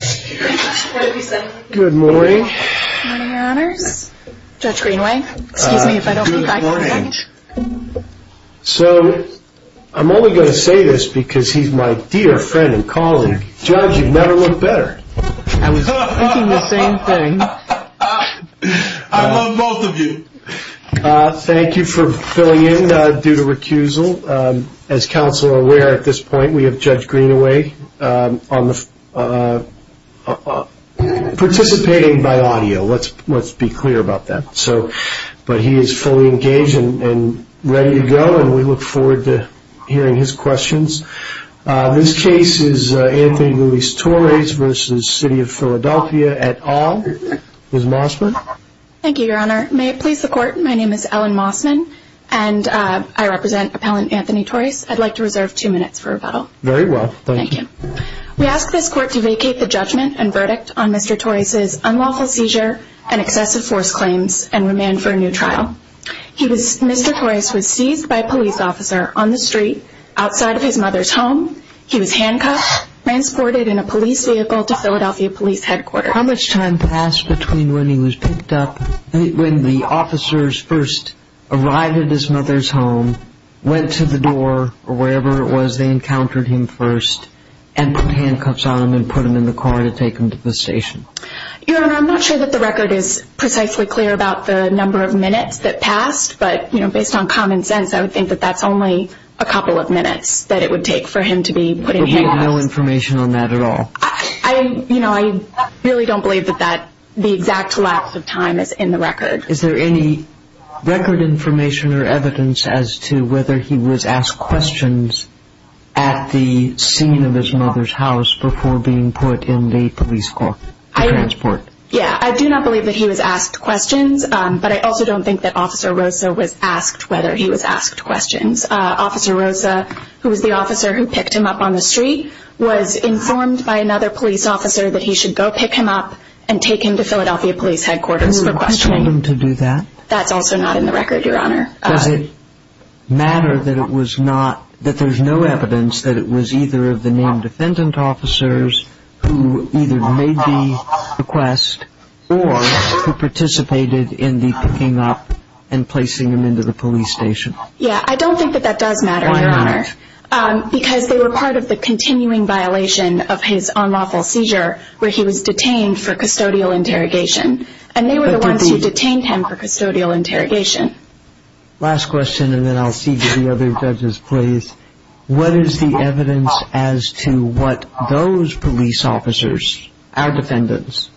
What did we say? Good morning. Good morning, your honors. Judge Greenaway, excuse me if I don't keep eye contact. Good morning. So I'm only going to say this because he's my dear friend and colleague. Judge, you've never looked better. I was thinking the same thing. I love both of you. Thank you for filling in due to recusal. As counsel are aware at this point, we have Judge Greenaway participating by audio. Let's be clear about that. But he is fully engaged and ready to go and we look forward to hearing his questions. This case is Anthony Luis Torres v. City of Philadelphia et al. Ms. Mossman. Thank you, your honor. May it please the court, my name is Ellen Mossman and I represent appellant Anthony Torres. I'd like to reserve two minutes for rebuttal. Very well. Thank you. We ask this court to vacate the judgment and verdict on Mr. Torres' unlawful seizure and excessive force claims and remand for a new trial. Mr. Torres was seized by a police officer on the street outside of his mother's home. He was handcuffed, transported in a police vehicle to Philadelphia Police Headquarters. How much time passed between when he was picked up and when the officers first arrived at his mother's home, went to the door or wherever it was they encountered him first, and put handcuffs on him and put him in the car to take him to the station? Your honor, I'm not sure that the record is precisely clear about the number of minutes that passed, but based on common sense I would think that that's only a couple of minutes that it would take for him to be put in handcuffs. But we have no information on that at all? I really don't believe that the exact lapse of time is in the record. Is there any record information or evidence as to whether he was asked questions at the scene of his mother's house before being put in the police car, the transport? Yeah, I do not believe that he was asked questions, but I also don't think that Officer Rosa was asked whether he was asked questions. Officer Rosa, who was the officer who picked him up on the street, was informed by another police officer that he should go pick him up and take him to Philadelphia Police Headquarters for questioning. Who told him to do that? That's also not in the record, your honor. Does it matter that there's no evidence that it was either of the named defendant officers who either made the request or who participated in the picking up and placing him into the police station? Yeah, I don't think that that does matter, your honor. Why not? Because they were part of the continuing violation of his unlawful seizure where he was detained for custodial interrogation. And they were the ones who detained him for custodial interrogation. Last question, and then I'll see if the other judges please. What is the evidence as to what those police officers, our defendants,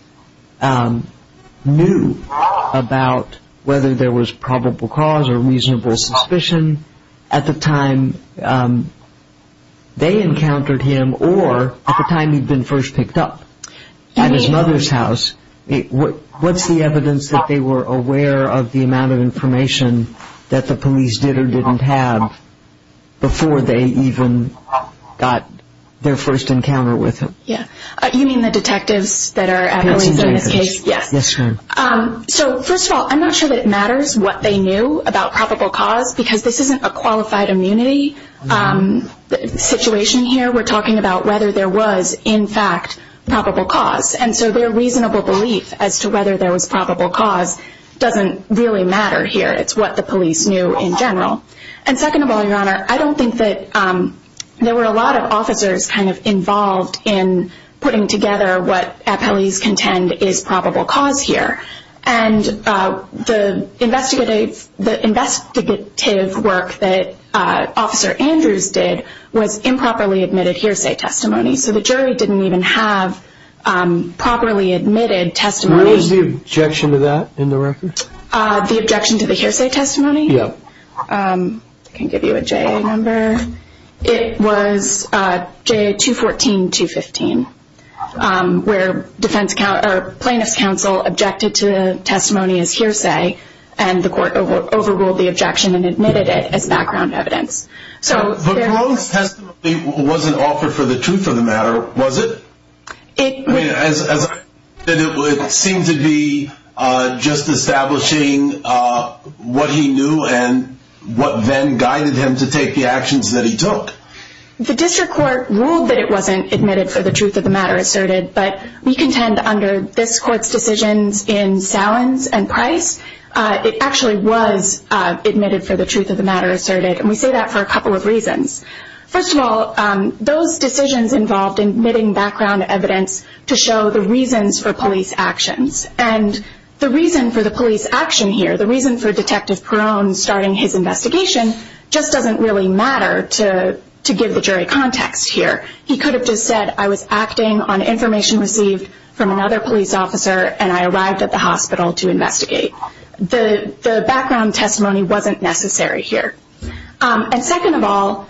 knew about whether there was probable cause or reasonable suspicion at the time they encountered him or at the time he'd been first picked up at his mother's house? What's the evidence that they were aware of the amount of information that the police did or didn't have before they even got their first encounter with him? You mean the detectives that are at police in this case? Yes. Yes, ma'am. So, first of all, I'm not sure that it matters what they knew about probable cause because this isn't a qualified immunity situation here. We're talking about whether there was, in fact, probable cause. And so their reasonable belief as to whether there was probable cause doesn't really matter here. It's what the police knew in general. And second of all, Your Honor, I don't think that there were a lot of officers kind of involved in putting together what appellees contend is probable cause here. And the investigative work that Officer Andrews did was improperly admitted hearsay testimony. So the jury didn't even have properly admitted testimony. What was the objection to that in the record? The objection to the hearsay testimony? Yeah. I can give you a JA number. It was JA 214-215 where defense counsel or plaintiff's counsel objected to testimony as hearsay and the court overruled the objection and admitted it as background evidence. But Malone's testimony wasn't offered for the truth of the matter, was it? As I said, it seemed to be just establishing what he knew and what then guided him to take the actions that he took. The district court ruled that it wasn't admitted for the truth of the matter asserted, but we contend under this court's decisions in Salins and Price, it actually was admitted for the truth of the matter asserted. And we say that for a couple of reasons. First of all, those decisions involved admitting background evidence to show the reasons for police actions. And the reason for the police action here, the reason for Detective Perrone starting his investigation, just doesn't really matter to give the jury context here. He could have just said, I was acting on information received from another police officer and I arrived at the hospital to investigate. The background testimony wasn't necessary here. And second of all,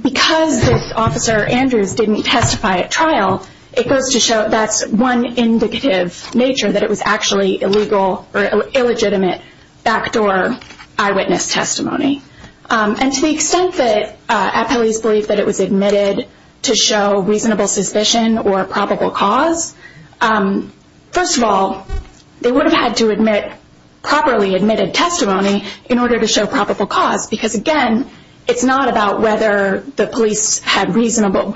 because this officer, Andrews, didn't testify at trial, it goes to show that's one indicative nature that it was actually illegal or illegitimate backdoor eyewitness testimony. And to the extent that police believe that it was admitted to show reasonable suspicion or probable cause, first of all, they would have had to admit properly admitted testimony in order to show probable cause. Because again, it's not about whether the police had a reasonable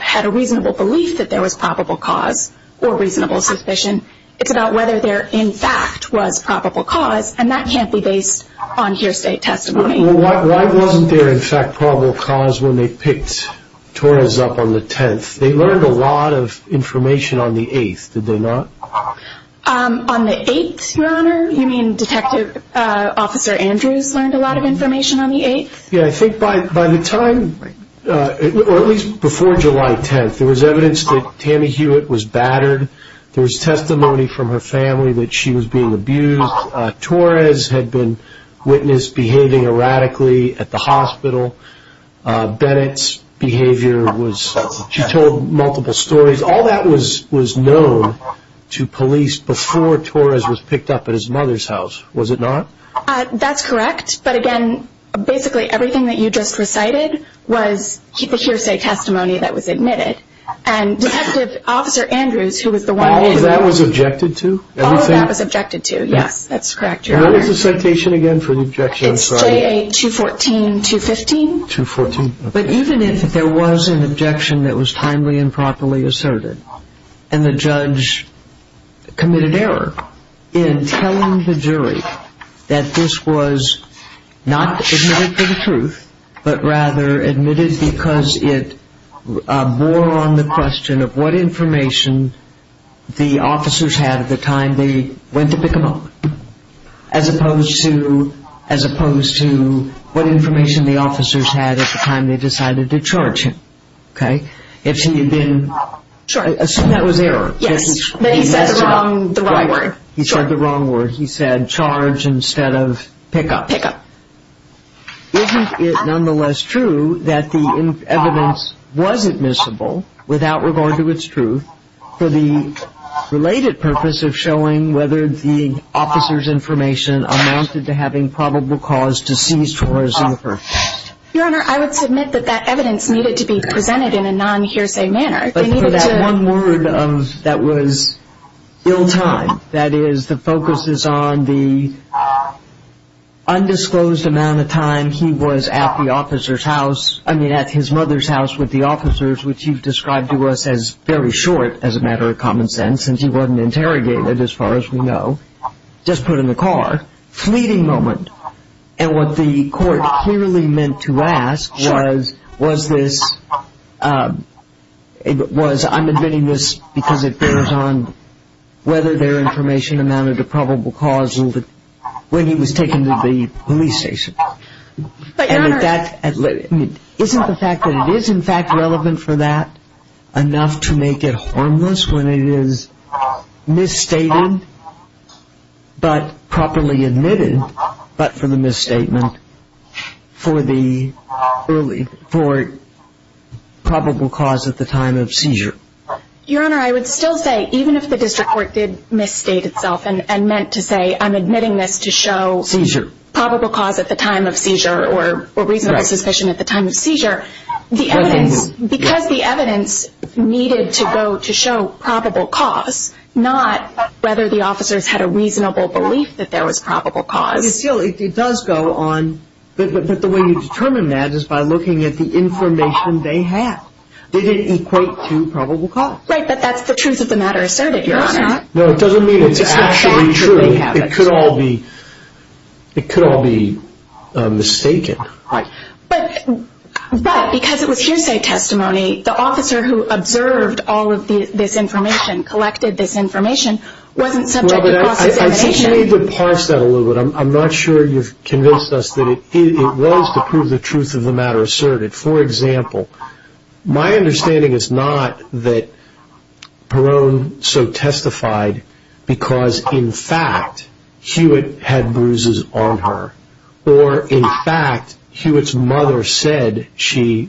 belief that there was probable cause or reasonable suspicion. It's about whether there in fact was probable cause. And that can't be based on here state testimony. Why wasn't there in fact probable cause when they picked Torres up on the 10th? They learned a lot of information on the 8th, did they not? On the 8th, Your Honor, you mean Detective Officer Andrews learned a lot of information on the 8th? Yeah, I think by the time, or at least before July 10th, there was evidence that Tammy Hewitt was battered. There was testimony from her family that she was being abused. Torres had been witnessed behaving erratically at the hospital. Bennett's behavior was, she told multiple stories. All that was known to police before Torres was picked up at his mother's house, was it not? That's correct. But again, basically everything that you just recited was the hearsay testimony that was admitted. And Detective Officer Andrews, who was the one... All of that was objected to? All of that was objected to, yes, that's correct, Your Honor. What was the citation again for the objection? It's JA-214-215. But even if there was an objection that was timely and properly asserted, and the judge committed error in telling the jury that this was not admitted for the truth, but rather admitted because it bore on the question of what information the officers had at the time they went to pick him up, as opposed to what information the officers had at the time they decided to charge him. Okay? If he had been... Sure. Assume that was error. Yes, but he said the wrong word. He said the wrong word. He said charge instead of pick up. Pick up. Isn't it nonetheless true that the evidence was admissible without regard to its truth for the related purpose of showing whether the officers' information amounted to having probable cause to seize Torres in the first place? Your Honor, I would submit that that evidence needed to be presented in a non-hearsay manner. But for that one word that was ill-timed, that is the focus is on the undisclosed amount of time he was at the officer's house, I mean at his mother's house with the officers, which you've described to us as very short as a matter of common sense since he wasn't interrogated as far as we know, just put in the car, fleeting moment. And what the court clearly meant to ask was, was this, was I'm admitting this because it bears on whether their information amounted to probable cause when he was taken to the police station. Isn't the fact that it is in fact relevant for that enough to make it harmless when it is misstated but properly admitted, but for the misstatement for the early, for probable cause at the time of seizure? Your Honor, I would still say even if the district court did misstate itself and meant to say I'm admitting this to show probable cause at the time of seizure or reasonable suspicion at the time of seizure, the evidence, because the evidence needed to go to show probable cause, not whether the officers had a reasonable belief that there was probable cause. It still, it does go on, but the way you determine that is by looking at the information they have. They didn't equate to probable cause. Right, but that's the truth of the matter asserted, Your Honor. No, it's not. No, it doesn't mean it's actually true. It could all be, it could all be mistaken. Right. But because it was hearsay testimony, the officer who observed all of this information, collected this information, wasn't subject to process evidence. I think you need to parse that a little bit. I'm not sure you've convinced us that it was to prove the truth of the matter asserted. For example, my understanding is not that Peron so testified because, in fact, Hewitt had bruises on her, or, in fact, Hewitt's mother said she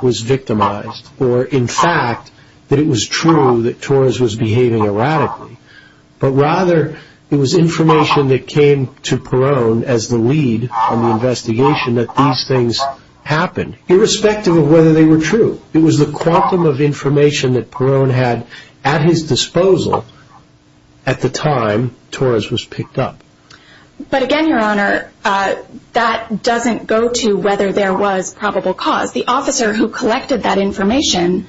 was victimized, or, in fact, that it was true that Torres was behaving erratically, but rather it was information that came to Peron as the lead on the investigation that these things happened. Irrespective of whether they were true, it was the quantum of information that Peron had at his disposal at the time Torres was picked up. But, again, Your Honor, that doesn't go to whether there was probable cause. The officer who collected that information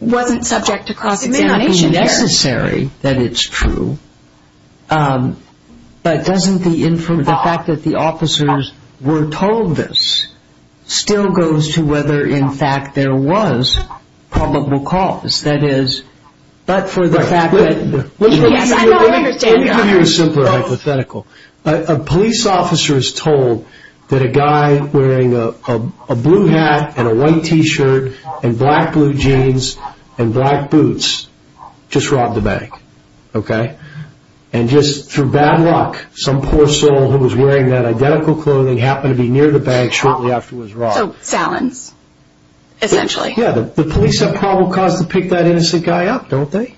wasn't subject to cross-examination here. It's necessary that it's true, but doesn't the fact that the officers were told this still go to whether, in fact, there was probable cause? That is, but for the fact that- Yes, I know, I understand, Your Honor. Let me give you a simpler hypothetical. A police officer is told that a guy wearing a blue hat and a white T-shirt and black blue jeans and black boots just robbed a bank, okay? And just through bad luck, some poor soul who was wearing that identical clothing happened to be near the bank shortly after it was robbed. Salons, essentially. Yeah, the police have probable cause to pick that innocent guy up, don't they?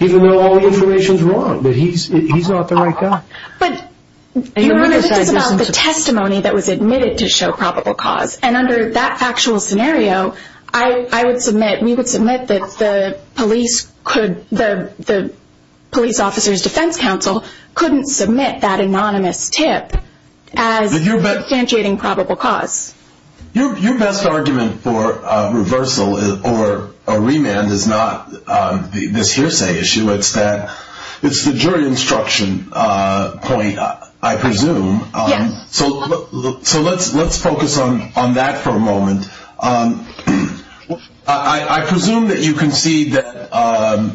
Even though all the information is wrong, but he's not the right guy. But, Your Honor, this is about the testimony that was admitted to show probable cause. And under that factual scenario, we would submit that the police officer's defense counsel couldn't submit that anonymous tip as substantiating probable cause. Your best argument for reversal or remand is not this hearsay issue. It's the jury instruction point, I presume. Yes. So let's focus on that for a moment. I presume that you concede that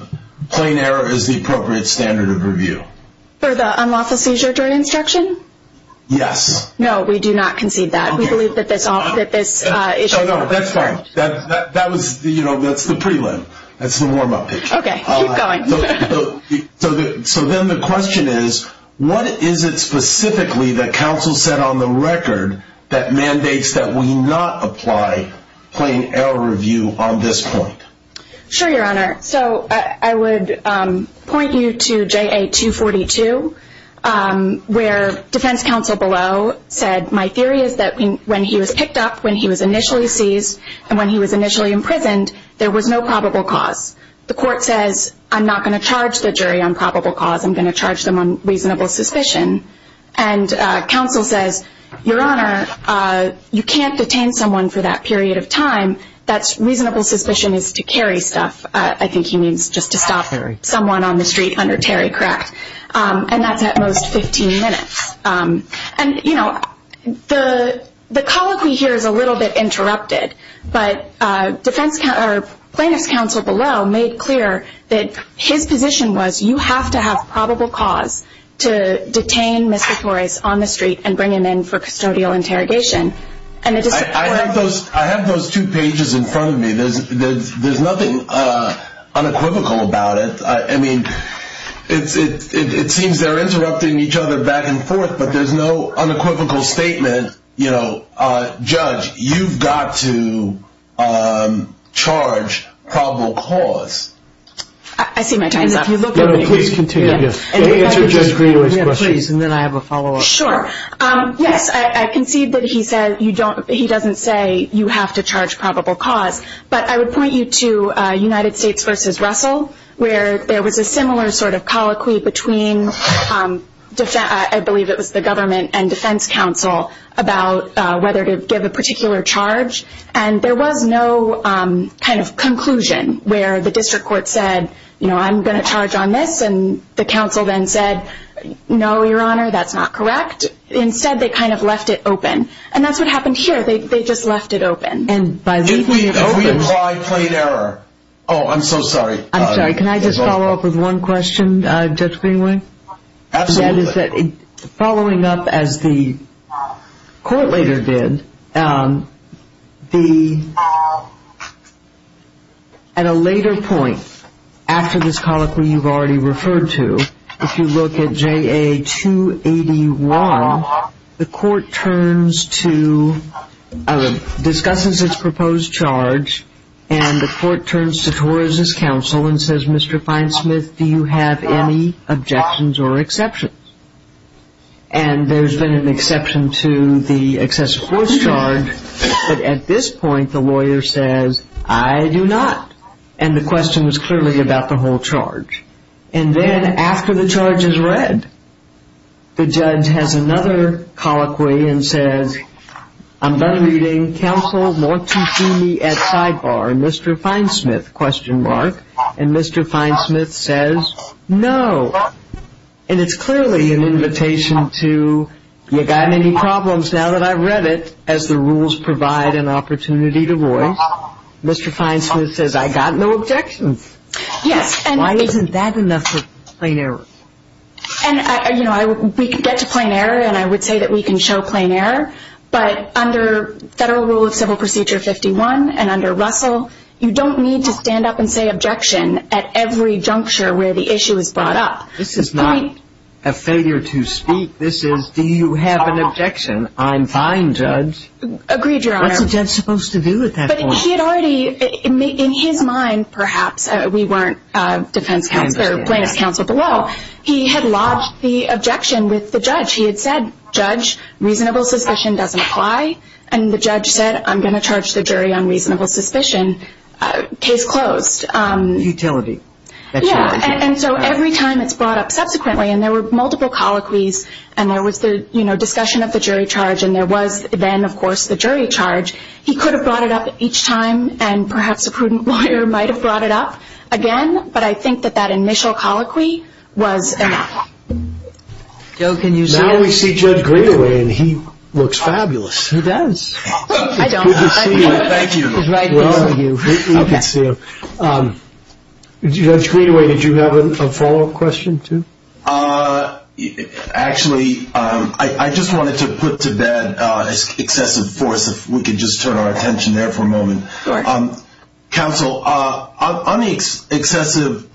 plain error is the appropriate standard of review. For the unlawful seizure jury instruction? Yes. No, we do not concede that. That's fine. That's the prelim. That's the warm-up picture. Okay, keep going. So then the question is, what is it specifically that counsel said on the record that mandates that we not apply plain error review on this point? Sure, Your Honor. So I would point you to JA-242, where defense counsel below said, my theory is that when he was picked up, when he was initially seized, and when he was initially imprisoned, there was no probable cause. The court says, I'm not going to charge the jury on probable cause. I'm going to charge them on reasonable suspicion. And counsel says, Your Honor, you can't detain someone for that period of time. That's reasonable suspicion is to carry stuff. I think he means just to stop someone on the street under Terry, correct? And that's at most 15 minutes. And, you know, the colloquy here is a little bit interrupted, but defense counsel or plaintiff's counsel below made clear that his position was, you have to have probable cause to detain Mr. Torres on the street and bring him in for custodial interrogation. I have those two pages in front of me. There's nothing unequivocal about it. I mean, it seems they're interrupting each other back and forth, but there's no unequivocal statement. You know, Judge, you've got to charge probable cause. I see my time's up. No, no, please continue. Answer Judge Greenaway's question. Yeah, please, and then I have a follow-up. Sure. Yes, I concede that he doesn't say you have to charge probable cause, but I would point you to United States v. Russell, where there was a similar sort of colloquy between, I believe it was the government and defense counsel about whether to give a particular charge. And there was no kind of conclusion where the district court said, you know, I'm going to charge on this, and the counsel then said, no, Your Honor, that's not correct. Instead, they kind of left it open. And that's what happened here. They just left it open. If we apply plain error. Oh, I'm so sorry. I'm sorry. Can I just follow up with one question, Judge Greenaway? Absolutely. Following up as the court later did, at a later point after this colloquy you've already referred to, if you look at JA 281, the court discusses its proposed charge, and the court turns to Torres' counsel and says, Mr. Finesmith, do you have any objections or exceptions? And there's been an exception to the excessive force charge, but at this point the lawyer says, I do not. And the question was clearly about the whole charge. And then after the charge is read, the judge has another colloquy and says, I'm done reading counsel Mortici at sidebar, Mr. Finesmith, question mark. And Mr. Finesmith says, no. And it's clearly an invitation to, you got any problems now that I've read it, as the rules provide an opportunity to voice. Mr. Finesmith says, I got no objections. Why isn't that enough for plain error? We could get to plain error, and I would say that we can show plain error, but under Federal Rule of Civil Procedure 51 and under Russell, you don't need to stand up and say objection at every juncture where the issue is brought up. This is not a failure to speak. This is, do you have an objection? I'm fine, Judge. Agreed, Your Honor. What's a judge supposed to do at that point? But he had already, in his mind perhaps, we weren't defense counsel or plaintiff's counsel below, he had lodged the objection with the judge. He had said, Judge, reasonable suspicion doesn't apply. And the judge said, I'm going to charge the jury on reasonable suspicion. Case closed. Utility. Yeah, and so every time it's brought up subsequently, and there were multiple colloquies, and there was the discussion of the jury charge, and there was then, of course, the jury charge, he could have brought it up each time, and perhaps a prudent lawyer might have brought it up again, but I think that that initial colloquy was enough. Joe, can you say anything? Now we see Judge Greenaway, and he looks fabulous. He does. I don't. Thank you. He's right next to you. You can see him. Judge Greenaway, did you have a follow-up question too? Actually, I just wanted to put to bed excessive force, if we could just turn our attention there for a moment. Counsel, on the excessive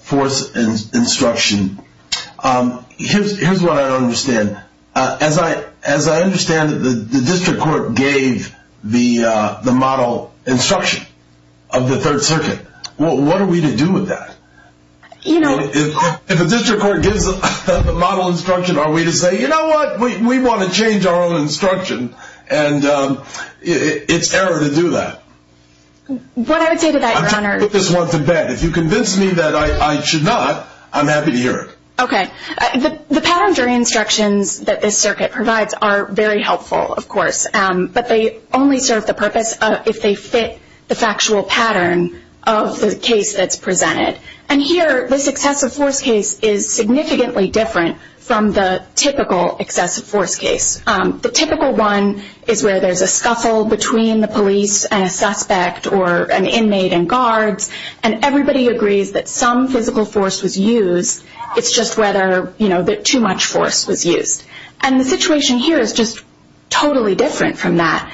force instruction, here's what I don't understand. As I understand it, the district court gave the model instruction of the Third Circuit. What are we to do with that? If a district court gives a model instruction, are we to say, you know what, we want to change our own instruction, and it's error to do that? What I would say to that, Your Honor – I'm trying to put this one to bed. If you convince me that I should not, I'm happy to hear it. Okay. The pattern jury instructions that this circuit provides are very helpful, of course, but they only serve the purpose if they fit the factual pattern of the case that's presented. Here, this excessive force case is significantly different from the typical excessive force case. The typical one is where there's a scuffle between the police and a suspect or an inmate and guards, and everybody agrees that some physical force was used. The situation here is just totally different from that.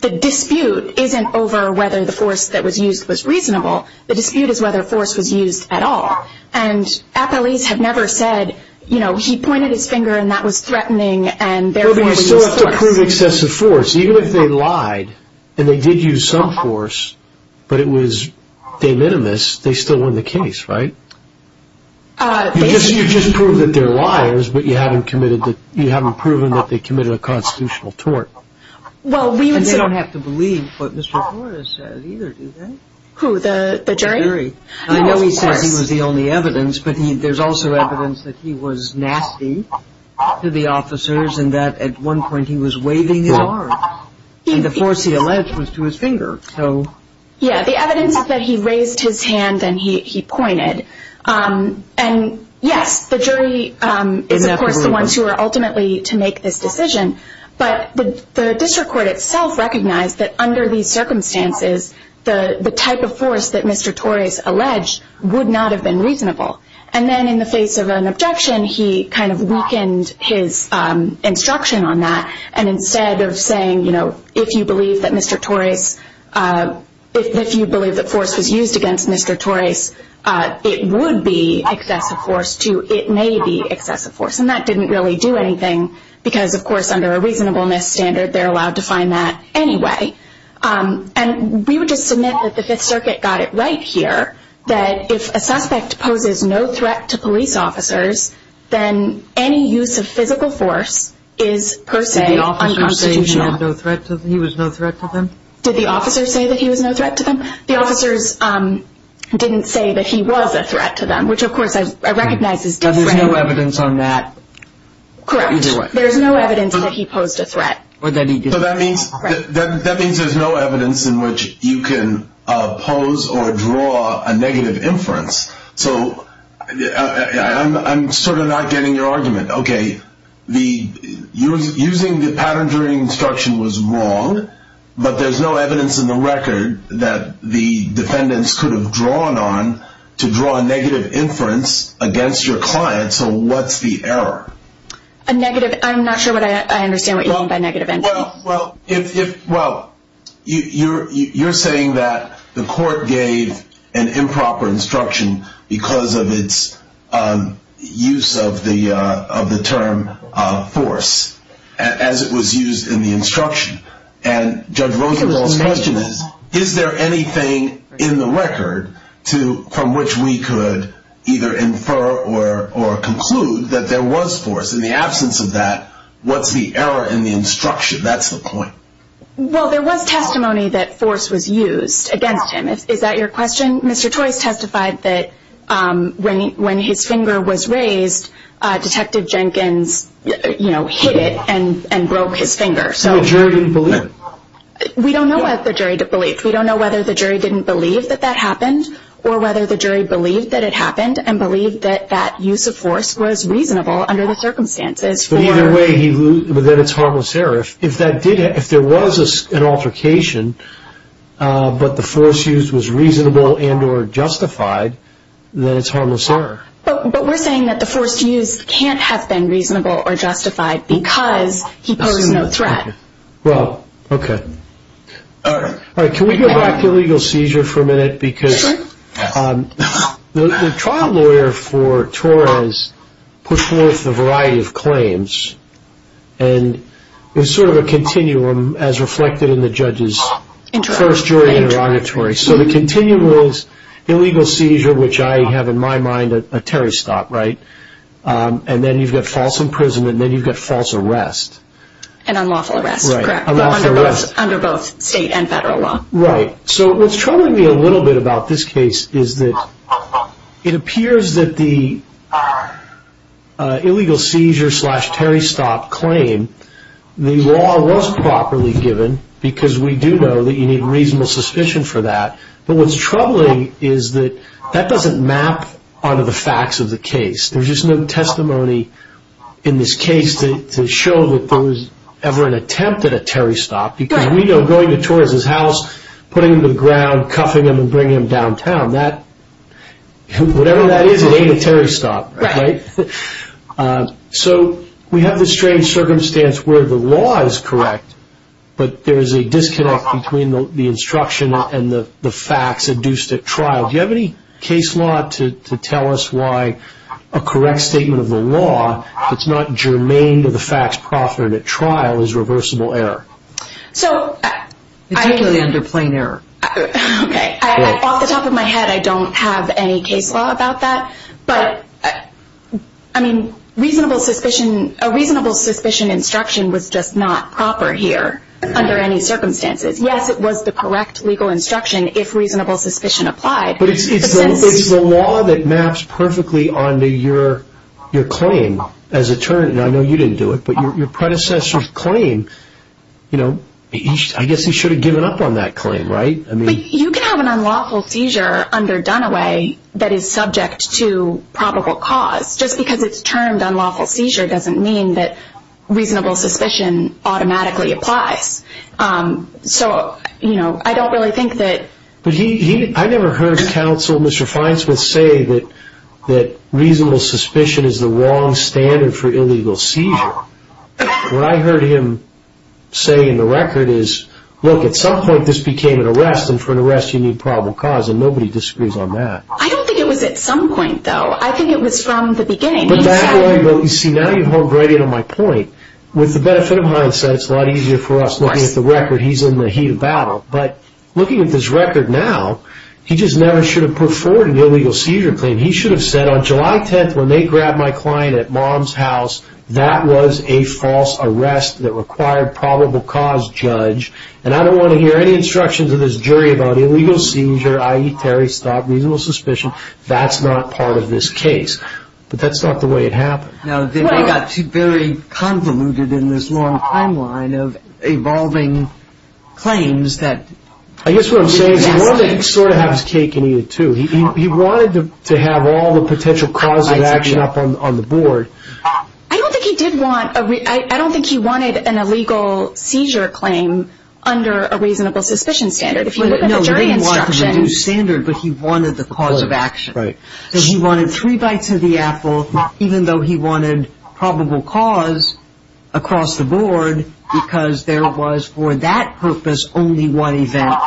The dispute isn't over whether the force that was used was reasonable. The dispute is whether force was used at all. Appellees have never said, you know, he pointed his finger, and that was threatening, and therefore – But you still have to prove excessive force. Even if they lied and they did use some force, but it was de minimis, they still won the case, right? You just proved that they're liars, but you haven't proven that they committed a constitutional tort. And they don't have to believe what Mr. Flores says either, do they? Who, the jury? I know he says he was the only evidence, but there's also evidence that he was nasty to the officers and that at one point he was waving his arm, and the force he alleged was to his finger. Yeah, the evidence is that he raised his hand and he pointed. And yes, the jury is of course the ones who are ultimately to make this decision, but the district court itself recognized that under these circumstances, the type of force that Mr. Torres alleged would not have been reasonable. And then in the face of an objection, he kind of weakened his instruction on that, and instead of saying, you know, if you believe that Mr. Torres, if you believe that force was used against Mr. Torres, it would be excessive force, it may be excessive force. And that didn't really do anything, because of course under a reasonableness standard, they're allowed to find that anyway. And we would just submit that the Fifth Circuit got it right here, that if a suspect poses no threat to police officers, then any use of physical force is per se unconstitutional. Did the officers say he was no threat to them? Did the officers say that he was no threat to them? The officers didn't say that he was a threat to them, which of course I recognize is different. But there's no evidence on that? Correct. There's no evidence that he posed a threat. So that means there's no evidence in which you can pose or draw a negative inference. So I'm sort of not getting your argument. Okay, using the pattern during instruction was wrong, but there's no evidence in the record that the defendants could have drawn on to draw a negative inference against your client, so what's the error? I'm not sure I understand what you mean by negative inference. Well, you're saying that the court gave an improper instruction because of its use of the term force, as it was used in the instruction. And Judge Rosenblum's question is, is there anything in the record from which we could either infer or conclude that there was force? In the absence of that, what's the error in the instruction? That's the point. Well, there was testimony that force was used against him. Is that your question? Mr. Toyce testified that when his finger was raised, Detective Jenkins hit it and broke his finger. So the jury didn't believe? We don't know whether the jury believed. We don't know whether the jury didn't believe that that happened or whether the jury believed that it happened and believed that that use of force was reasonable under the circumstances. But either way, then it's harmless error. If there was an altercation, but the force used was reasonable and or justified, then it's harmless error. But we're saying that the force used can't have been reasonable or justified because he posed no threat. Well, okay. All right. Can we go back to illegal seizure for a minute? Sure. Because the trial lawyer for Torres puts forth a variety of claims and there's sort of a continuum as reflected in the judge's first jury interrogatory. So the continuum is illegal seizure, which I have in my mind a terrorist stop, right? And then you've got false imprisonment, and then you've got false arrest. And unlawful arrest, correct. Unlawful arrest. Under both state and federal law. Right. So what's troubling me a little bit about this case is that it appears that the illegal seizure slash terrorist stop claim, the law was properly given because we do know that you need reasonable suspicion for that. But what's troubling is that that doesn't map onto the facts of the case. There's just no testimony in this case to show that there was ever an attempt at a terrorist stop because we know going to Torres' house, putting him to the ground, cuffing him, and bringing him downtown, whatever that is, it ain't a terrorist stop, right? Right. So we have this strange circumstance where the law is correct, but there is a disconnect between the instruction and the facts induced at trial. Do you have any case law to tell us why a correct statement of the law that's not germane to the facts proffered at trial is reversible error? Particularly under plain error. Okay. Off the top of my head, I don't have any case law about that. But, I mean, a reasonable suspicion instruction was just not proper here under any circumstances. Yes, it was the correct legal instruction if reasonable suspicion applied. But it's the law that maps perfectly onto your claim as attorney. I know you didn't do it, but your predecessor's claim, I guess he should have given up on that claim, right? You can have an unlawful seizure under Dunaway that is subject to probable cause. Just because it's termed unlawful seizure doesn't mean that reasonable suspicion automatically applies. So, you know, I don't really think that... I never heard counsel Mr. Feinsmith say that reasonable suspicion is the wrong standard for illegal seizure. What I heard him say in the record is, look, at some point this became an arrest, and for an arrest you need probable cause, and nobody disagrees on that. I don't think it was at some point, though. I think it was from the beginning. You see, now you've honed right in on my point. With the benefit of hindsight, it's a lot easier for us looking at the record. He's in the heat of battle. But looking at this record now, he just never should have put forward an illegal seizure claim. He should have said on July 10th when they grabbed my client at mom's house, that was a false arrest that required probable cause, judge. And I don't want to hear any instructions of this jury about illegal seizure, i.e. Terry stopped reasonable suspicion. That's not part of this case. But that's not the way it happened. No, they got very convoluted in this long timeline of evolving claims that... I guess what I'm saying is he wanted to sort of have his cake and eat it, too. He wanted to have all the potential cause of action up on the board. I don't think he did want a... I don't think he wanted an illegal seizure claim under a reasonable suspicion standard. If you look at the jury instruction... No, he didn't want a new standard, but he wanted the cause of action. Right. He wanted three bites of the apple, even though he wanted probable cause across the board, because there was for that purpose only one event.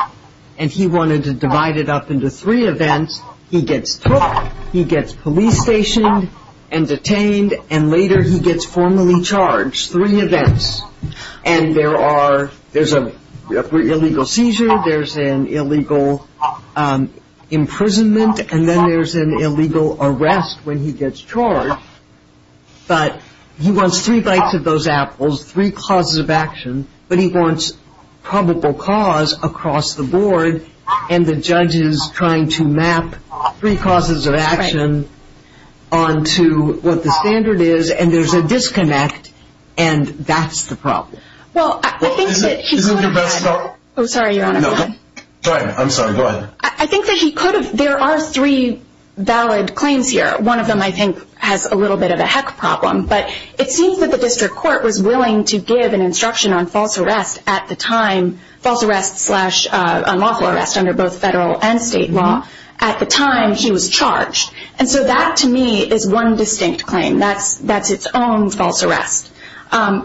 And he wanted to divide it up into three events. He gets took, he gets police stationed and detained, and later he gets formally charged. Three events. And there are... there's an illegal seizure, there's an illegal imprisonment, and then there's an illegal arrest when he gets charged. But he wants three bites of those apples, three causes of action, but he wants probable cause across the board, and the judge is trying to map three causes of action onto what the standard is, and there's a disconnect, and that's the problem. Well, I think that he could have had... Isn't your best thought... Oh, sorry, Your Honor. No, go ahead. I'm sorry. Go ahead. I think that he could have... there are three valid claims here. One of them, I think, has a little bit of a heck problem, but it seems that the district court was willing to give an instruction on false arrest at the time, false arrest slash unlawful arrest under both federal and state law at the time he was charged. And so that, to me, is one distinct claim. That's its own false arrest.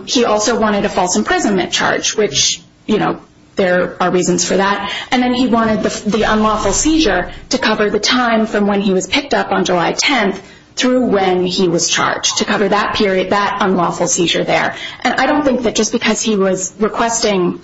He also wanted a false imprisonment charge, which, you know, there are reasons for that. And then he wanted the unlawful seizure to cover the time from when he was picked up on July 10th through when he was charged to cover that period, that unlawful seizure there. And I don't think that just because he was requesting,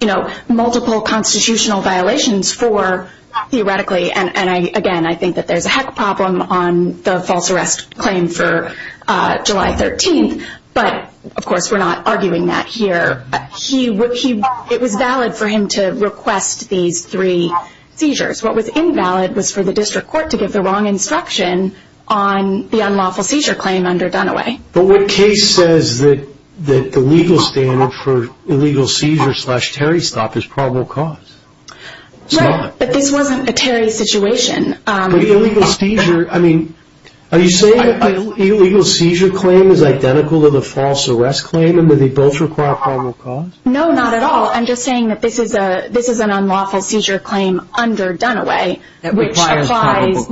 you know, multiple constitutional violations for, theoretically, and again, I think that there's a heck problem on the false arrest claim for July 13th, but, of course, we're not arguing that here. It was valid for him to request these three seizures. What was invalid was for the district court to give the wrong instruction on the unlawful seizure claim under Dunaway. But what case says that the legal standard for illegal seizure slash Terry stop is probable cause? Right, but this wasn't a Terry situation. But illegal seizure, I mean, are you saying that the illegal seizure claim is identical to the false arrest claim in that they both require probable cause? No, not at all. I'm just saying that this is an unlawful seizure claim under Dunaway,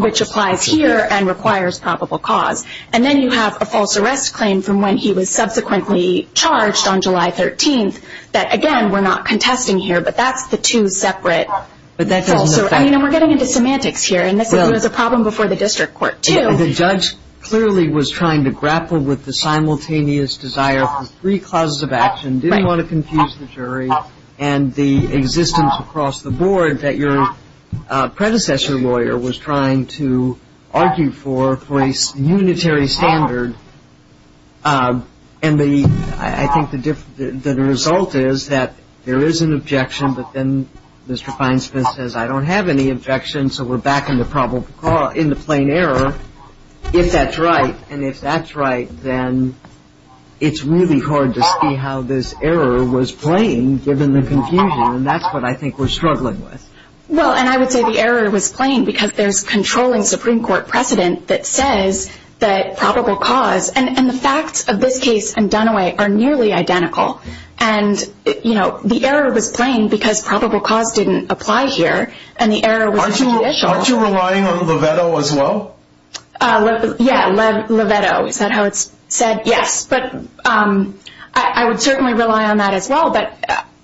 which applies here and requires probable cause. And then you have a false arrest claim from when he was subsequently charged on July 13th that, again, we're not contesting here, but that's the two separate false arrest. I mean, we're getting into semantics here, and this was a problem before the district court, too. The judge clearly was trying to grapple with the simultaneous desire for three clauses of action, didn't want to confuse the jury and the existence across the board that your predecessor lawyer was trying to argue for, for a unitary standard. And I think the result is that there is an objection, but then Mr. Feinsmith says, I don't have any objections, so we're back in the probable cause, in the plain error, if that's right. And if that's right, then it's really hard to see how this error was playing, given the confusion. And that's what I think we're struggling with. Well, and I would say the error was playing because there's controlling Supreme Court precedent that says that probable cause and the facts of this case and Dunaway are nearly identical. And the error was playing because probable cause didn't apply here, and the error was judicial. Aren't you relying on Lovetto as well? Yeah, Lovetto. Is that how it's said? Yes. But I would certainly rely on that as well, but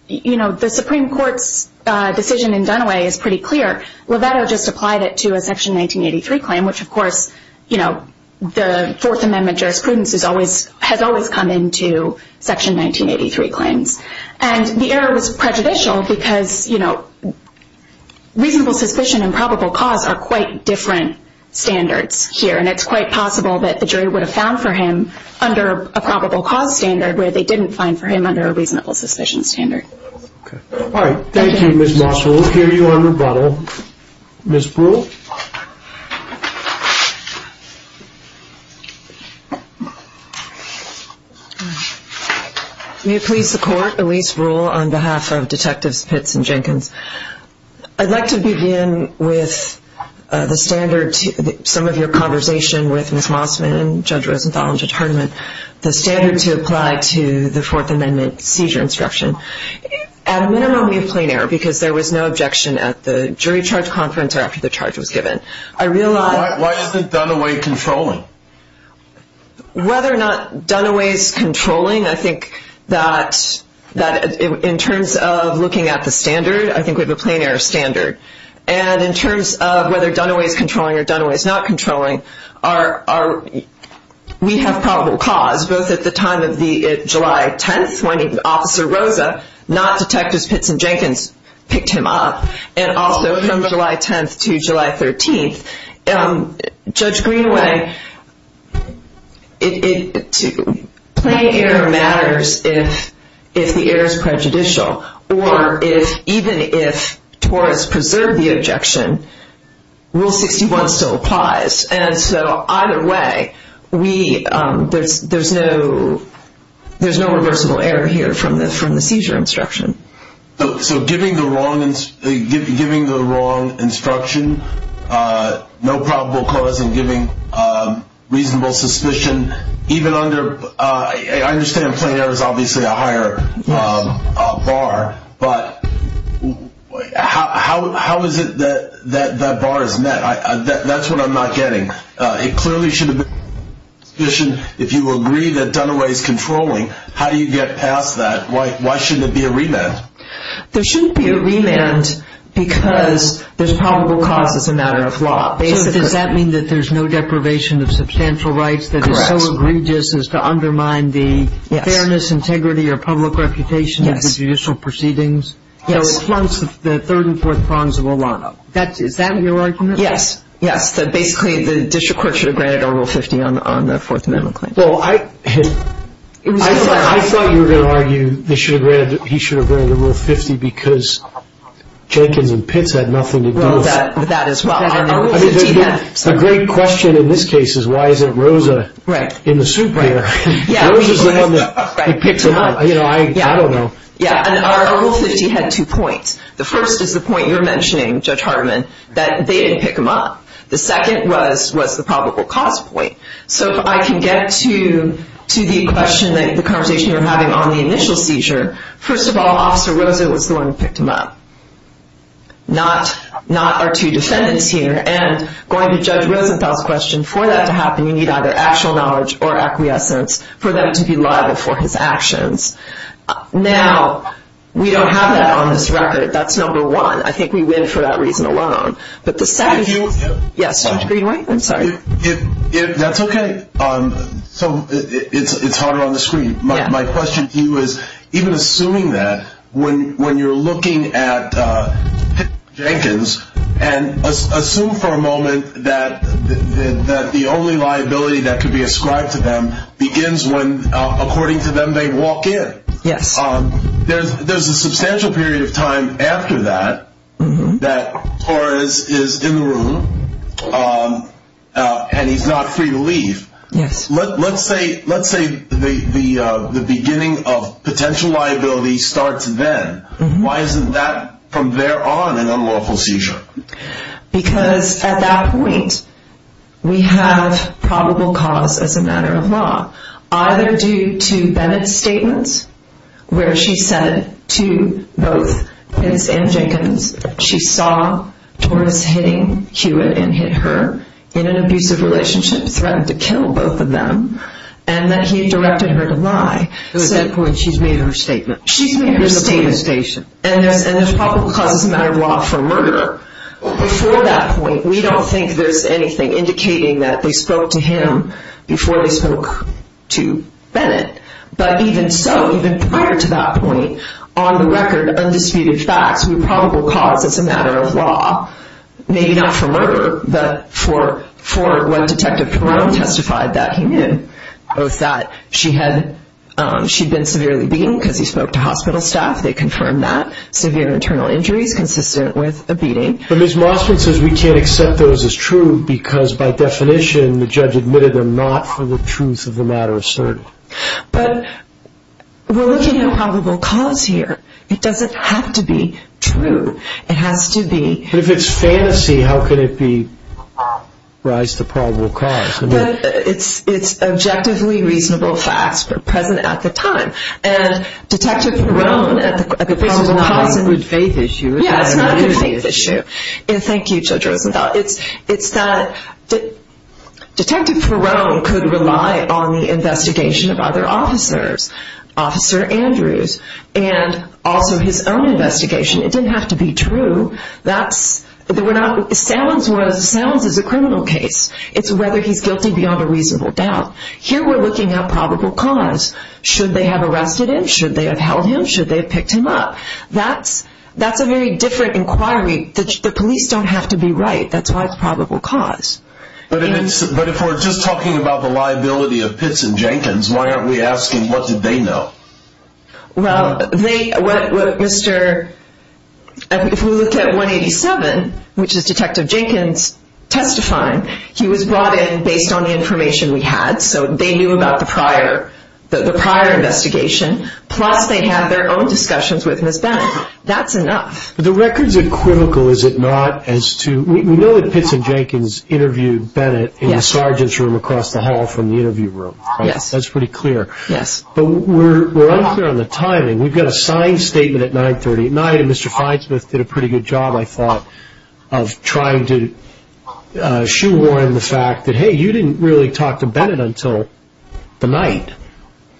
the Supreme Court's decision in Dunaway is pretty clear. Lovetto just applied it to a Section 1983 claim, which, of course, the Fourth Amendment jurisprudence has always come into Section 1983 claims. And the error was prejudicial because reasonable suspicion and probable cause are quite different standards here, and it's quite possible that the jury would have found for him under a probable cause standard where they didn't find for him under a reasonable suspicion standard. All right. Thank you, Ms. Mosser. We'll hear you on rebuttal. Ms. Brewer? May it please the Court, Elise Brewer on behalf of Detectives Pitts and Jenkins. I'd like to begin with the standard, some of your conversation with Ms. Mossman and Judge Rosenthal in determinant, the standard to apply to the Fourth Amendment seizure instruction. At a minimum, we have plain error because there was no objection at the jury charge conference or after the charge was given. Why isn't Dunaway controlling? Whether or not Dunaway's controlling, I think that in terms of looking at the standard, I think we have a plain error standard. And in terms of whether Dunaway's controlling or Dunaway's not controlling, we have probable cause, both at the time of the July 10th when Officer Rosa, not Detectives Pitts and Jenkins, picked him up, and also from July 10th to July 13th. Judge Greenaway, plain error matters if the error's prejudicial, or even if TOR has preserved the objection, Rule 61 still applies. And so either way, there's no reversible error here from the seizure instruction. So giving the wrong instruction, no probable cause, and giving reasonable suspicion, even under, I understand plain error's obviously a higher bar, but how is it that that bar is met? That's what I'm not getting. It clearly should have been a suspicion. If you agree that Dunaway's controlling, how do you get past that? Why shouldn't it be a remand? There shouldn't be a remand because there's probable cause as a matter of law. So does that mean that there's no deprivation of substantial rights that is so egregious as to undermine the fairness, integrity, or public reputation of the judicial proceedings? Yes. So it flunks the third and fourth prongs of Olano. Is that your argument? Yes. Yes, that basically the district court should have granted O Rule 50 on the Fourth Amendment claim. Well, I thought you were going to argue they should have granted, he should have granted O Rule 50 because Jenkins and Pitts had nothing to do with it. Well, that as well. A great question in this case is why is it Rosa in the soup here? Rosa's the one that picked them up. I don't know. Yeah, and O Rule 50 had two points. The first is the point you're mentioning, Judge Hardiman, that they didn't pick him up. The second was the probable cause point. So if I can get to the question that the conversation you were having on the initial seizure, first of all, Officer Rosa was the one who picked him up, not our two defendants here. And going to Judge Rosenthal's question, for that to happen you need either actual knowledge or acquiescence for them to be liable for his actions. Now, we don't have that on this record. That's number one. I think we win for that reason alone. Judge Greenway. Yes, Judge Greenway. I'm sorry. That's okay. It's harder on the screen. My question to you is, even assuming that, when you're looking at Jenkins, and assume for a moment that the only liability that could be ascribed to them begins when, according to them, they walk in, there's a substantial period of time after that that Torres is in the room and he's not free to leave. Let's say the beginning of potential liability starts then. Why isn't that, from there on, an unlawful seizure? Because at that point, we have probable cause as a matter of law, either due to Bennett's statement where she said to both Pitts and Jenkins she saw Torres hitting Hewitt and hit her in an abusive relationship, threatened to kill both of them, and that he directed her to lie. So at that point she's made her statement. She's made her statement. And there's probable cause as a matter of law for a murderer. Before that point, we don't think there's anything indicating that they spoke to him before they spoke to Bennett. But even so, even prior to that point, on the record, undisputed facts, we have probable cause as a matter of law, maybe not for murder, but for what Detective Perone testified that he knew, that she had been severely beaten because he spoke to hospital staff, they confirmed that, severe internal injuries consistent with a beating. But Ms. Mossman says we can't accept those as true because, by definition, the judge admitted them not for the truth of the matter asserted. But we're looking at probable cause here. It doesn't have to be true. It has to be... But if it's fantasy, how can it be rise to probable cause? But it's objectively reasonable facts that are present at the time. And Detective Perone at the probable cause... It's not a good faith issue. Yeah, it's not a good faith issue. And thank you, Judge Rosenthal. It's that Detective Perone could rely on the investigation of other officers, Officer Andrews, and also his own investigation. It didn't have to be true. That's... Salons is a criminal case. It's whether he's guilty beyond a reasonable doubt. Here we're looking at probable cause. Should they have arrested him? Should they have held him? Should they have picked him up? That's a very different inquiry. The police don't have to be right. That's why it's probable cause. But if we're just talking about the liability of Pitts and Jenkins, why aren't we asking what did they know? Well, they... If we look at 187, which is Detective Jenkins testifying, he was brought in based on the information we had, so they knew about the prior investigation, plus they had their own discussions with Ms. Bennett. That's enough. The records are critical, is it not, as to... We know that Pitts and Jenkins interviewed Bennett in the sergeant's room across the hall from the interview room. Yes. That's pretty clear. Yes. But we're unclear on the timing. We've got a signed statement at 930 at night, and Mr. Feinsmith did a pretty good job, I thought, of trying to shoehorn the fact that, hey, you didn't really talk to Bennett until the night,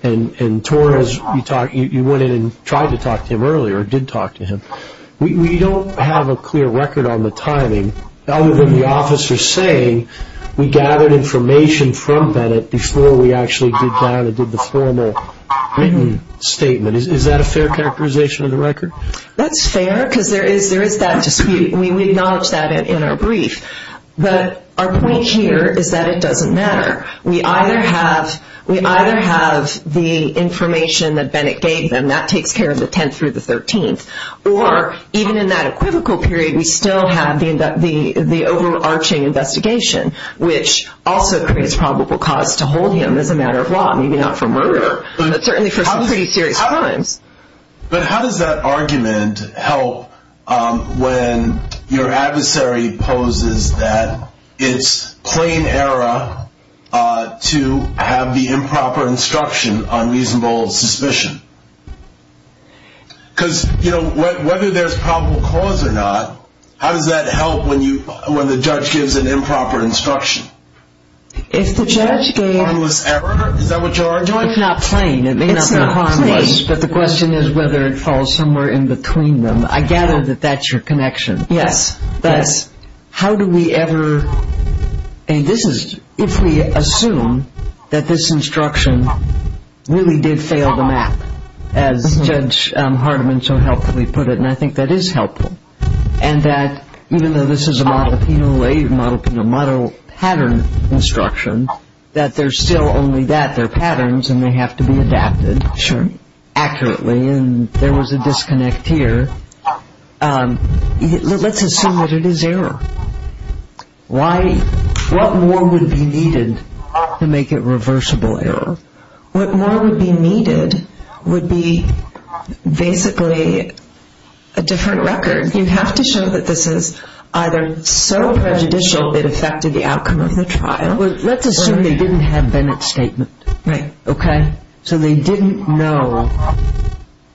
and Torres, you went in and tried to talk to him earlier, or did talk to him. We don't have a clear record on the timing, other than the officer saying we gathered information from Bennett before we actually did down and did the formal written statement. Is that a fair characterization of the record? That's fair, because there is that dispute, and we acknowledge that in our brief. But our point here is that it doesn't matter. We either have the information that Bennett gave them, and that takes care of the 10th through the 13th, or even in that equivocal period, we still have the overarching investigation, which also creates probable cause to hold him as a matter of law, maybe not for murder, but certainly for some pretty serious crimes. But how does that argument help when your adversary poses that it's plain error to have the improper instruction on reasonable suspicion? Because, you know, whether there's probable cause or not, how does that help when the judge gives an improper instruction? If the judge gave... Harmless error, is that what you're arguing? It's not plain. It may not be harmless, but the question is whether it falls somewhere in between them. I gather that that's your connection. Yes. That is, how do we ever... I mean, this is... If we assume that this instruction really did fail the map, as Judge Hardiman so helpfully put it, and I think that is helpful, and that even though this is a model penal lay, model penal model pattern instruction, that there's still only that, there are patterns, and they have to be adapted... Sure. ...accurately, and there was a disconnect here. Let's assume that it is error. Why... What more would be needed to make it reversible error? What more would be needed would be basically a different record. You have to show that this is either so prejudicial it affected the outcome of the trial... Well, let's assume they didn't have Bennett's statement. Right. Okay? So they didn't know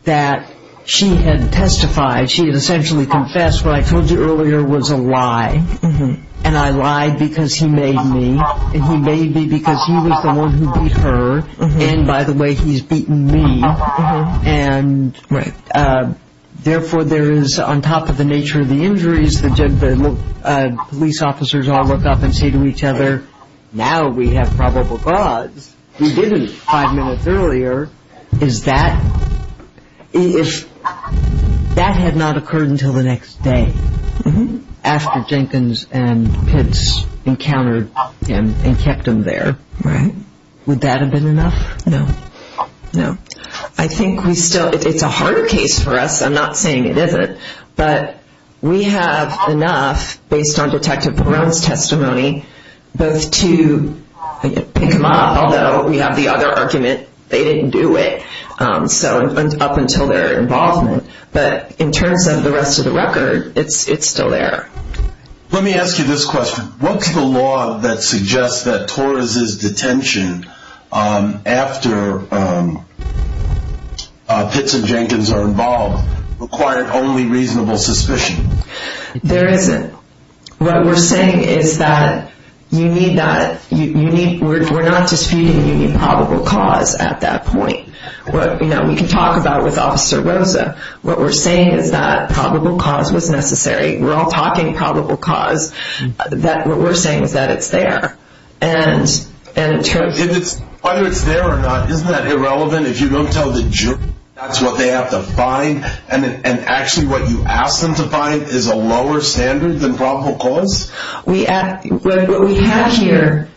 that she had testified, she had essentially confessed, what I told you earlier was a lie, and I lied because he made me, and he made me because he was the one who beat her, and by the way, he's beaten me, and therefore there is, on top of the nature of the injuries, the police officers all look up and say to each other, now we have probable cause, we didn't five minutes earlier, is that, if that had not occurred until the next day, after Jenkins and Pitts encountered him and kept him there... Right. ...would that have been enough? No. No. I think we still, it's a hard case for us, I'm not saying it isn't, but we have enough, based on Detective Perone's testimony, both to pick him up, although we have the other argument, they didn't do it, so up until their involvement, but in terms of the rest of the record, it's still there. Let me ask you this question. What's the law that suggests that Torres' detention after Pitts and Jenkins are involved required only reasonable suspicion? There isn't. What we're saying is that you need that, we're not disputing the probable cause at that point. We can talk about it with Officer Rosa. What we're saying is that probable cause was necessary. We're all talking probable cause. What we're saying is that it's there. Whether it's there or not, isn't that irrelevant? If you don't tell the jury that's what they have to find, and actually what you ask them to find is a lower standard than probable cause? What we have here,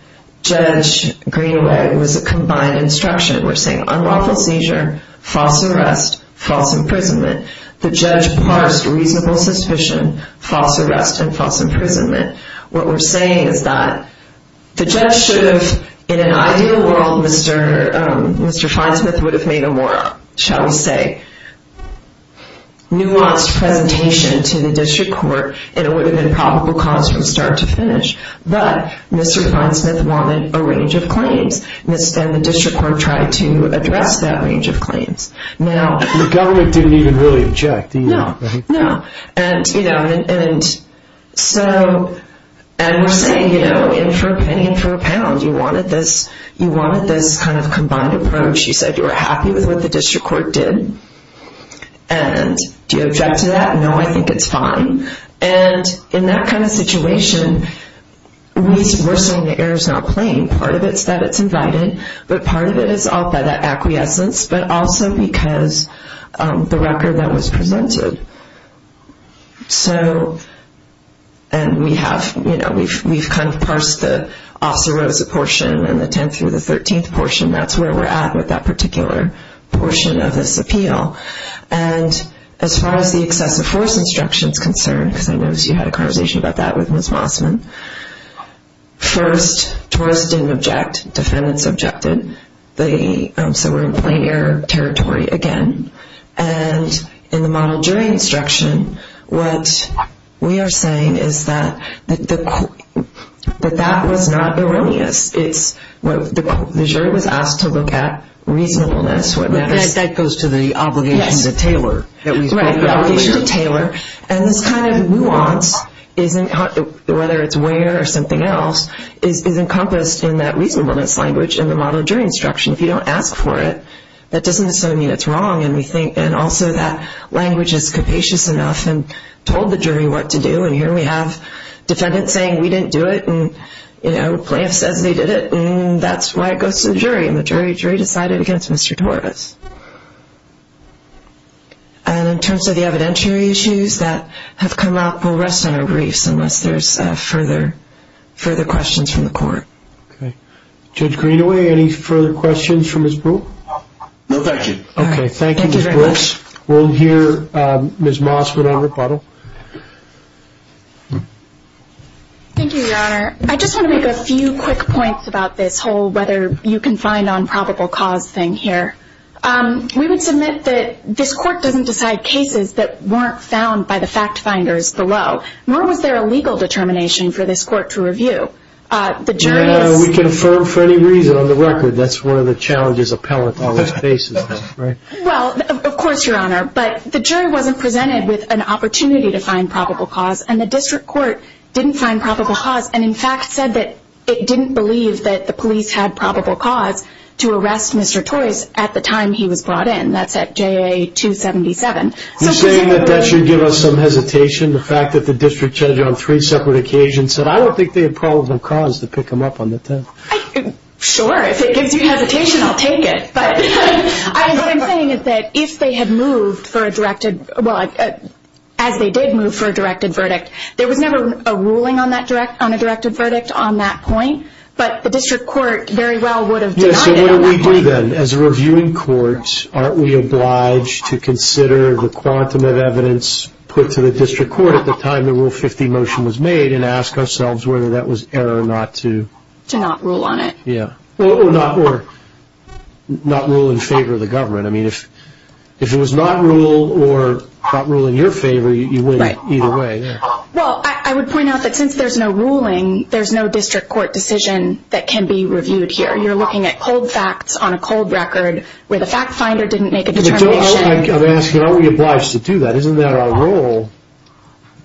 Judge Greenaway, was a combined instruction. We're saying unlawful seizure, false arrest, false imprisonment. The judge parsed reasonable suspicion, false arrest, and false imprisonment. What we're saying is that the judge should have, in an ideal world, Mr. Finesmith would have made a more, shall we say, nuanced presentation to the district court, and it would have been probable cause from start to finish. But Mr. Finesmith wanted a range of claims, and the district court tried to address that range of claims. The government didn't even really object. No, no. We're saying, in for a penny, in for a pound. You wanted this kind of combined approach. You said you were happy with what the district court did. Do you object to that? No, I think it's fine. In that kind of situation, we're saying the error is not plain. Part of it is that it's invited, but part of it is that acquiescence, but also because the record that was presented. So, and we have, you know, we've kind of parsed the Officer Rosa portion and the 10th through the 13th portion. That's where we're at with that particular portion of this appeal. And as far as the excessive force instruction is concerned, because I noticed you had a conversation about that with Ms. Mossman, first, tourists didn't object. Defendants objected. So we're in plain error territory again. And in the model jury instruction, what we are saying is that that was not erroneous. The jury was asked to look at reasonableness. That goes to the obligation to tailor. The obligation to tailor. And this kind of nuance, whether it's where or something else, is encompassed in that reasonableness language in the model jury instruction. If you don't ask for it, that doesn't necessarily mean it's wrong. And also that language is capacious enough and told the jury what to do. And here we have defendants saying, we didn't do it. And, you know, plaintiff says they did it. And that's why it goes to the jury. And the jury decided against Mr. Torres. And in terms of the evidentiary issues that have come up, we'll rest on our griefs unless there's further questions from the court. Okay. Judge Greenaway, any further questions from this group? No, thank you. Okay, thank you, Ms. Brooks. Thank you very much. We'll hear Ms. Mossman on rebuttal. Thank you, Your Honor. I just want to make a few quick points about this whole whether you can find on probable cause thing here. We would submit that this court doesn't decide cases that weren't found by the fact finders below. Nor was there a legal determination for this court to review. The jury is – We can affirm for any reason on the record that's one of the challenges appellants always face. Well, of course, Your Honor. But the jury wasn't presented with an opportunity to find probable cause. And the district court didn't find probable cause and, in fact, said that it didn't believe that the police had probable cause to arrest Mr. Toyce at the time he was brought in. That's at JA-277. You're saying that that should give us some hesitation, the fact that the district judge on three separate occasions said, I don't think they had probable cause to pick him up on the 10th. Sure. If it gives you hesitation, I'll take it. But what I'm saying is that if they had moved for a directed – as they did move for a directed verdict, there was never a ruling on a directed verdict on that point. But the district court very well would have denied it. Yes, so what do we do then? As a reviewing court, aren't we obliged to consider the quantum of evidence put to the district court at the time the Rule 50 motion was made and ask ourselves whether that was error not to – To not rule on it. Yeah. Or not rule in favor of the government. I mean, if it was not ruled or not ruled in your favor, you wouldn't either way. Well, I would point out that since there's no ruling, there's no district court decision that can be reviewed here. You're looking at cold facts on a cold record where the fact finder didn't make a determination. I'm asking, aren't we obliged to do that? Isn't that our role?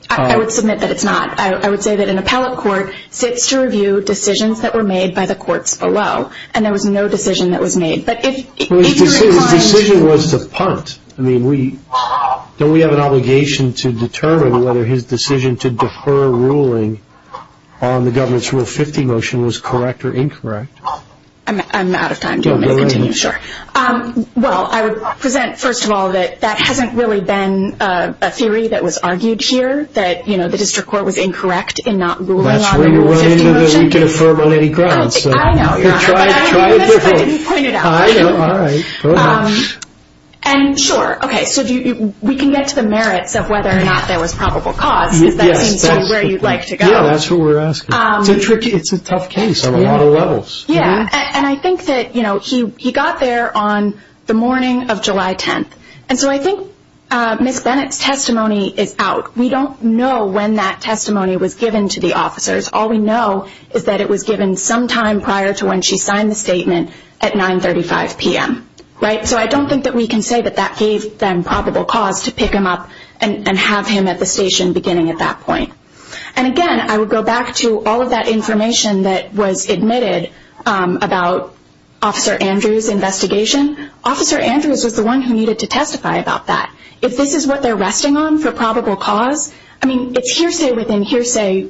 I would submit that it's not. I would say that an appellate court sits to review decisions that were made by the courts below, and there was no decision that was made. But if you're inclined to – His decision was to punt. I mean, don't we have an obligation to determine whether his decision to defer ruling on the government's Rule 50 motion was correct or incorrect? I'm out of time. Do you want me to continue? Sure. Well, I would present, first of all, that that hasn't really been a theory that was argued here, that the district court was incorrect in not ruling on the Rule 50 motion. That's where you're running to that we can affirm on any grounds. I know. But I'd be remiss if I didn't point it out. I know. All right. Go ahead. And sure, okay, so we can get to the merits of whether or not there was probable cause, because that seems to be where you'd like to go. Yeah, that's what we're asking. It's a tricky – it's a tough case on a lot of levels. Yeah, and I think that, you know, he got there on the morning of July 10th. And so I think Ms. Bennett's testimony is out. We don't know when that testimony was given to the officers. All we know is that it was given sometime prior to when she signed the statement at 935 p.m., right? So I don't think that we can say that that gave them probable cause to pick him up and have him at the station beginning at that point. And, again, I would go back to all of that information that was admitted about Officer Andrews' investigation. Officer Andrews was the one who needed to testify about that. If this is what they're resting on for probable cause, I mean, it's hearsay within hearsay,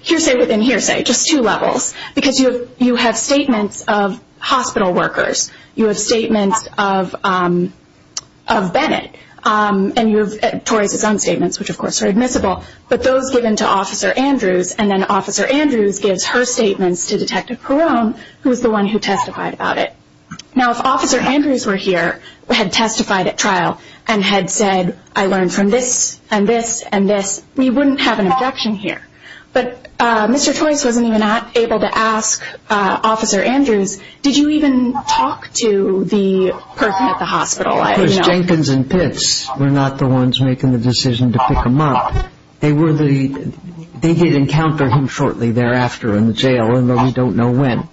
hearsay within hearsay, just two levels. Because you have statements of hospital workers. You have statements of Bennett. And you have Torres' own statements, which, of course, are admissible. But those given to Officer Andrews, and then Officer Andrews gives her statements to Detective Perrone, who was the one who testified about it. Now, if Officer Andrews were here, had testified at trial, and had said, I learned from this and this and this, we wouldn't have an objection here. But Mr. Torres wasn't even able to ask Officer Andrews, did you even talk to the person at the hospital? Because Jenkins and Pitts were not the ones making the decision to pick him up. They were the ñ they did encounter him shortly thereafter in the jail, although we don't know when.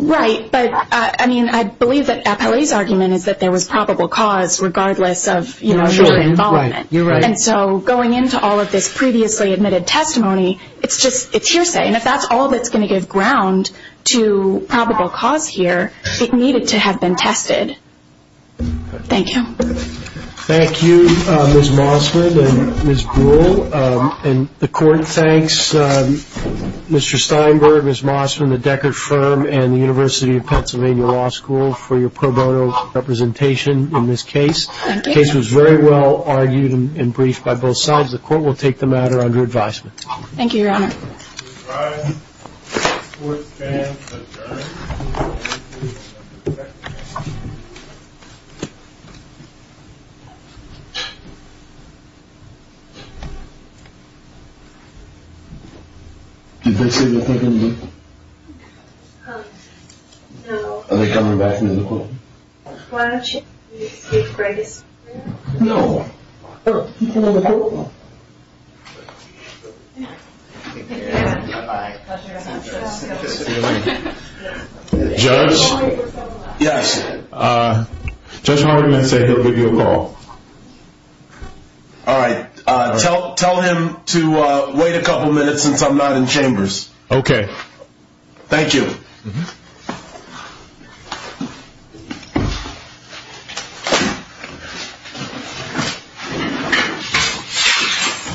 Right, but, I mean, I believe that Appellee's argument is that there was probable cause, regardless of, you know, your involvement. Right, you're right. And so going into all of this previously admitted testimony, it's just ñ it's hearsay. And if that's all that's going to give ground to probable cause here, it needed to have been tested. Thank you. Thank you, Ms. Mossman and Ms. Buhl. And the Court thanks Mr. Steinberg, Ms. Mossman, the Deckard firm, and the University of Pennsylvania Law School for your pro bono representation in this case. Thank you. The case was very well argued and briefed by both sides. The Court will take the matter under advisement. Thank you, Your Honor. Mr. Steinberg, the Court stands adjourned. Did they say anything to you? No. Are they coming back in the courtroom? Why don't you take a break? No. You can go to the courtroom. Judge? Yes. Judge Hardiman said he'll give you a call. All right. Tell him to wait a couple minutes since I'm not in chambers. Okay. Thank you. Thank you.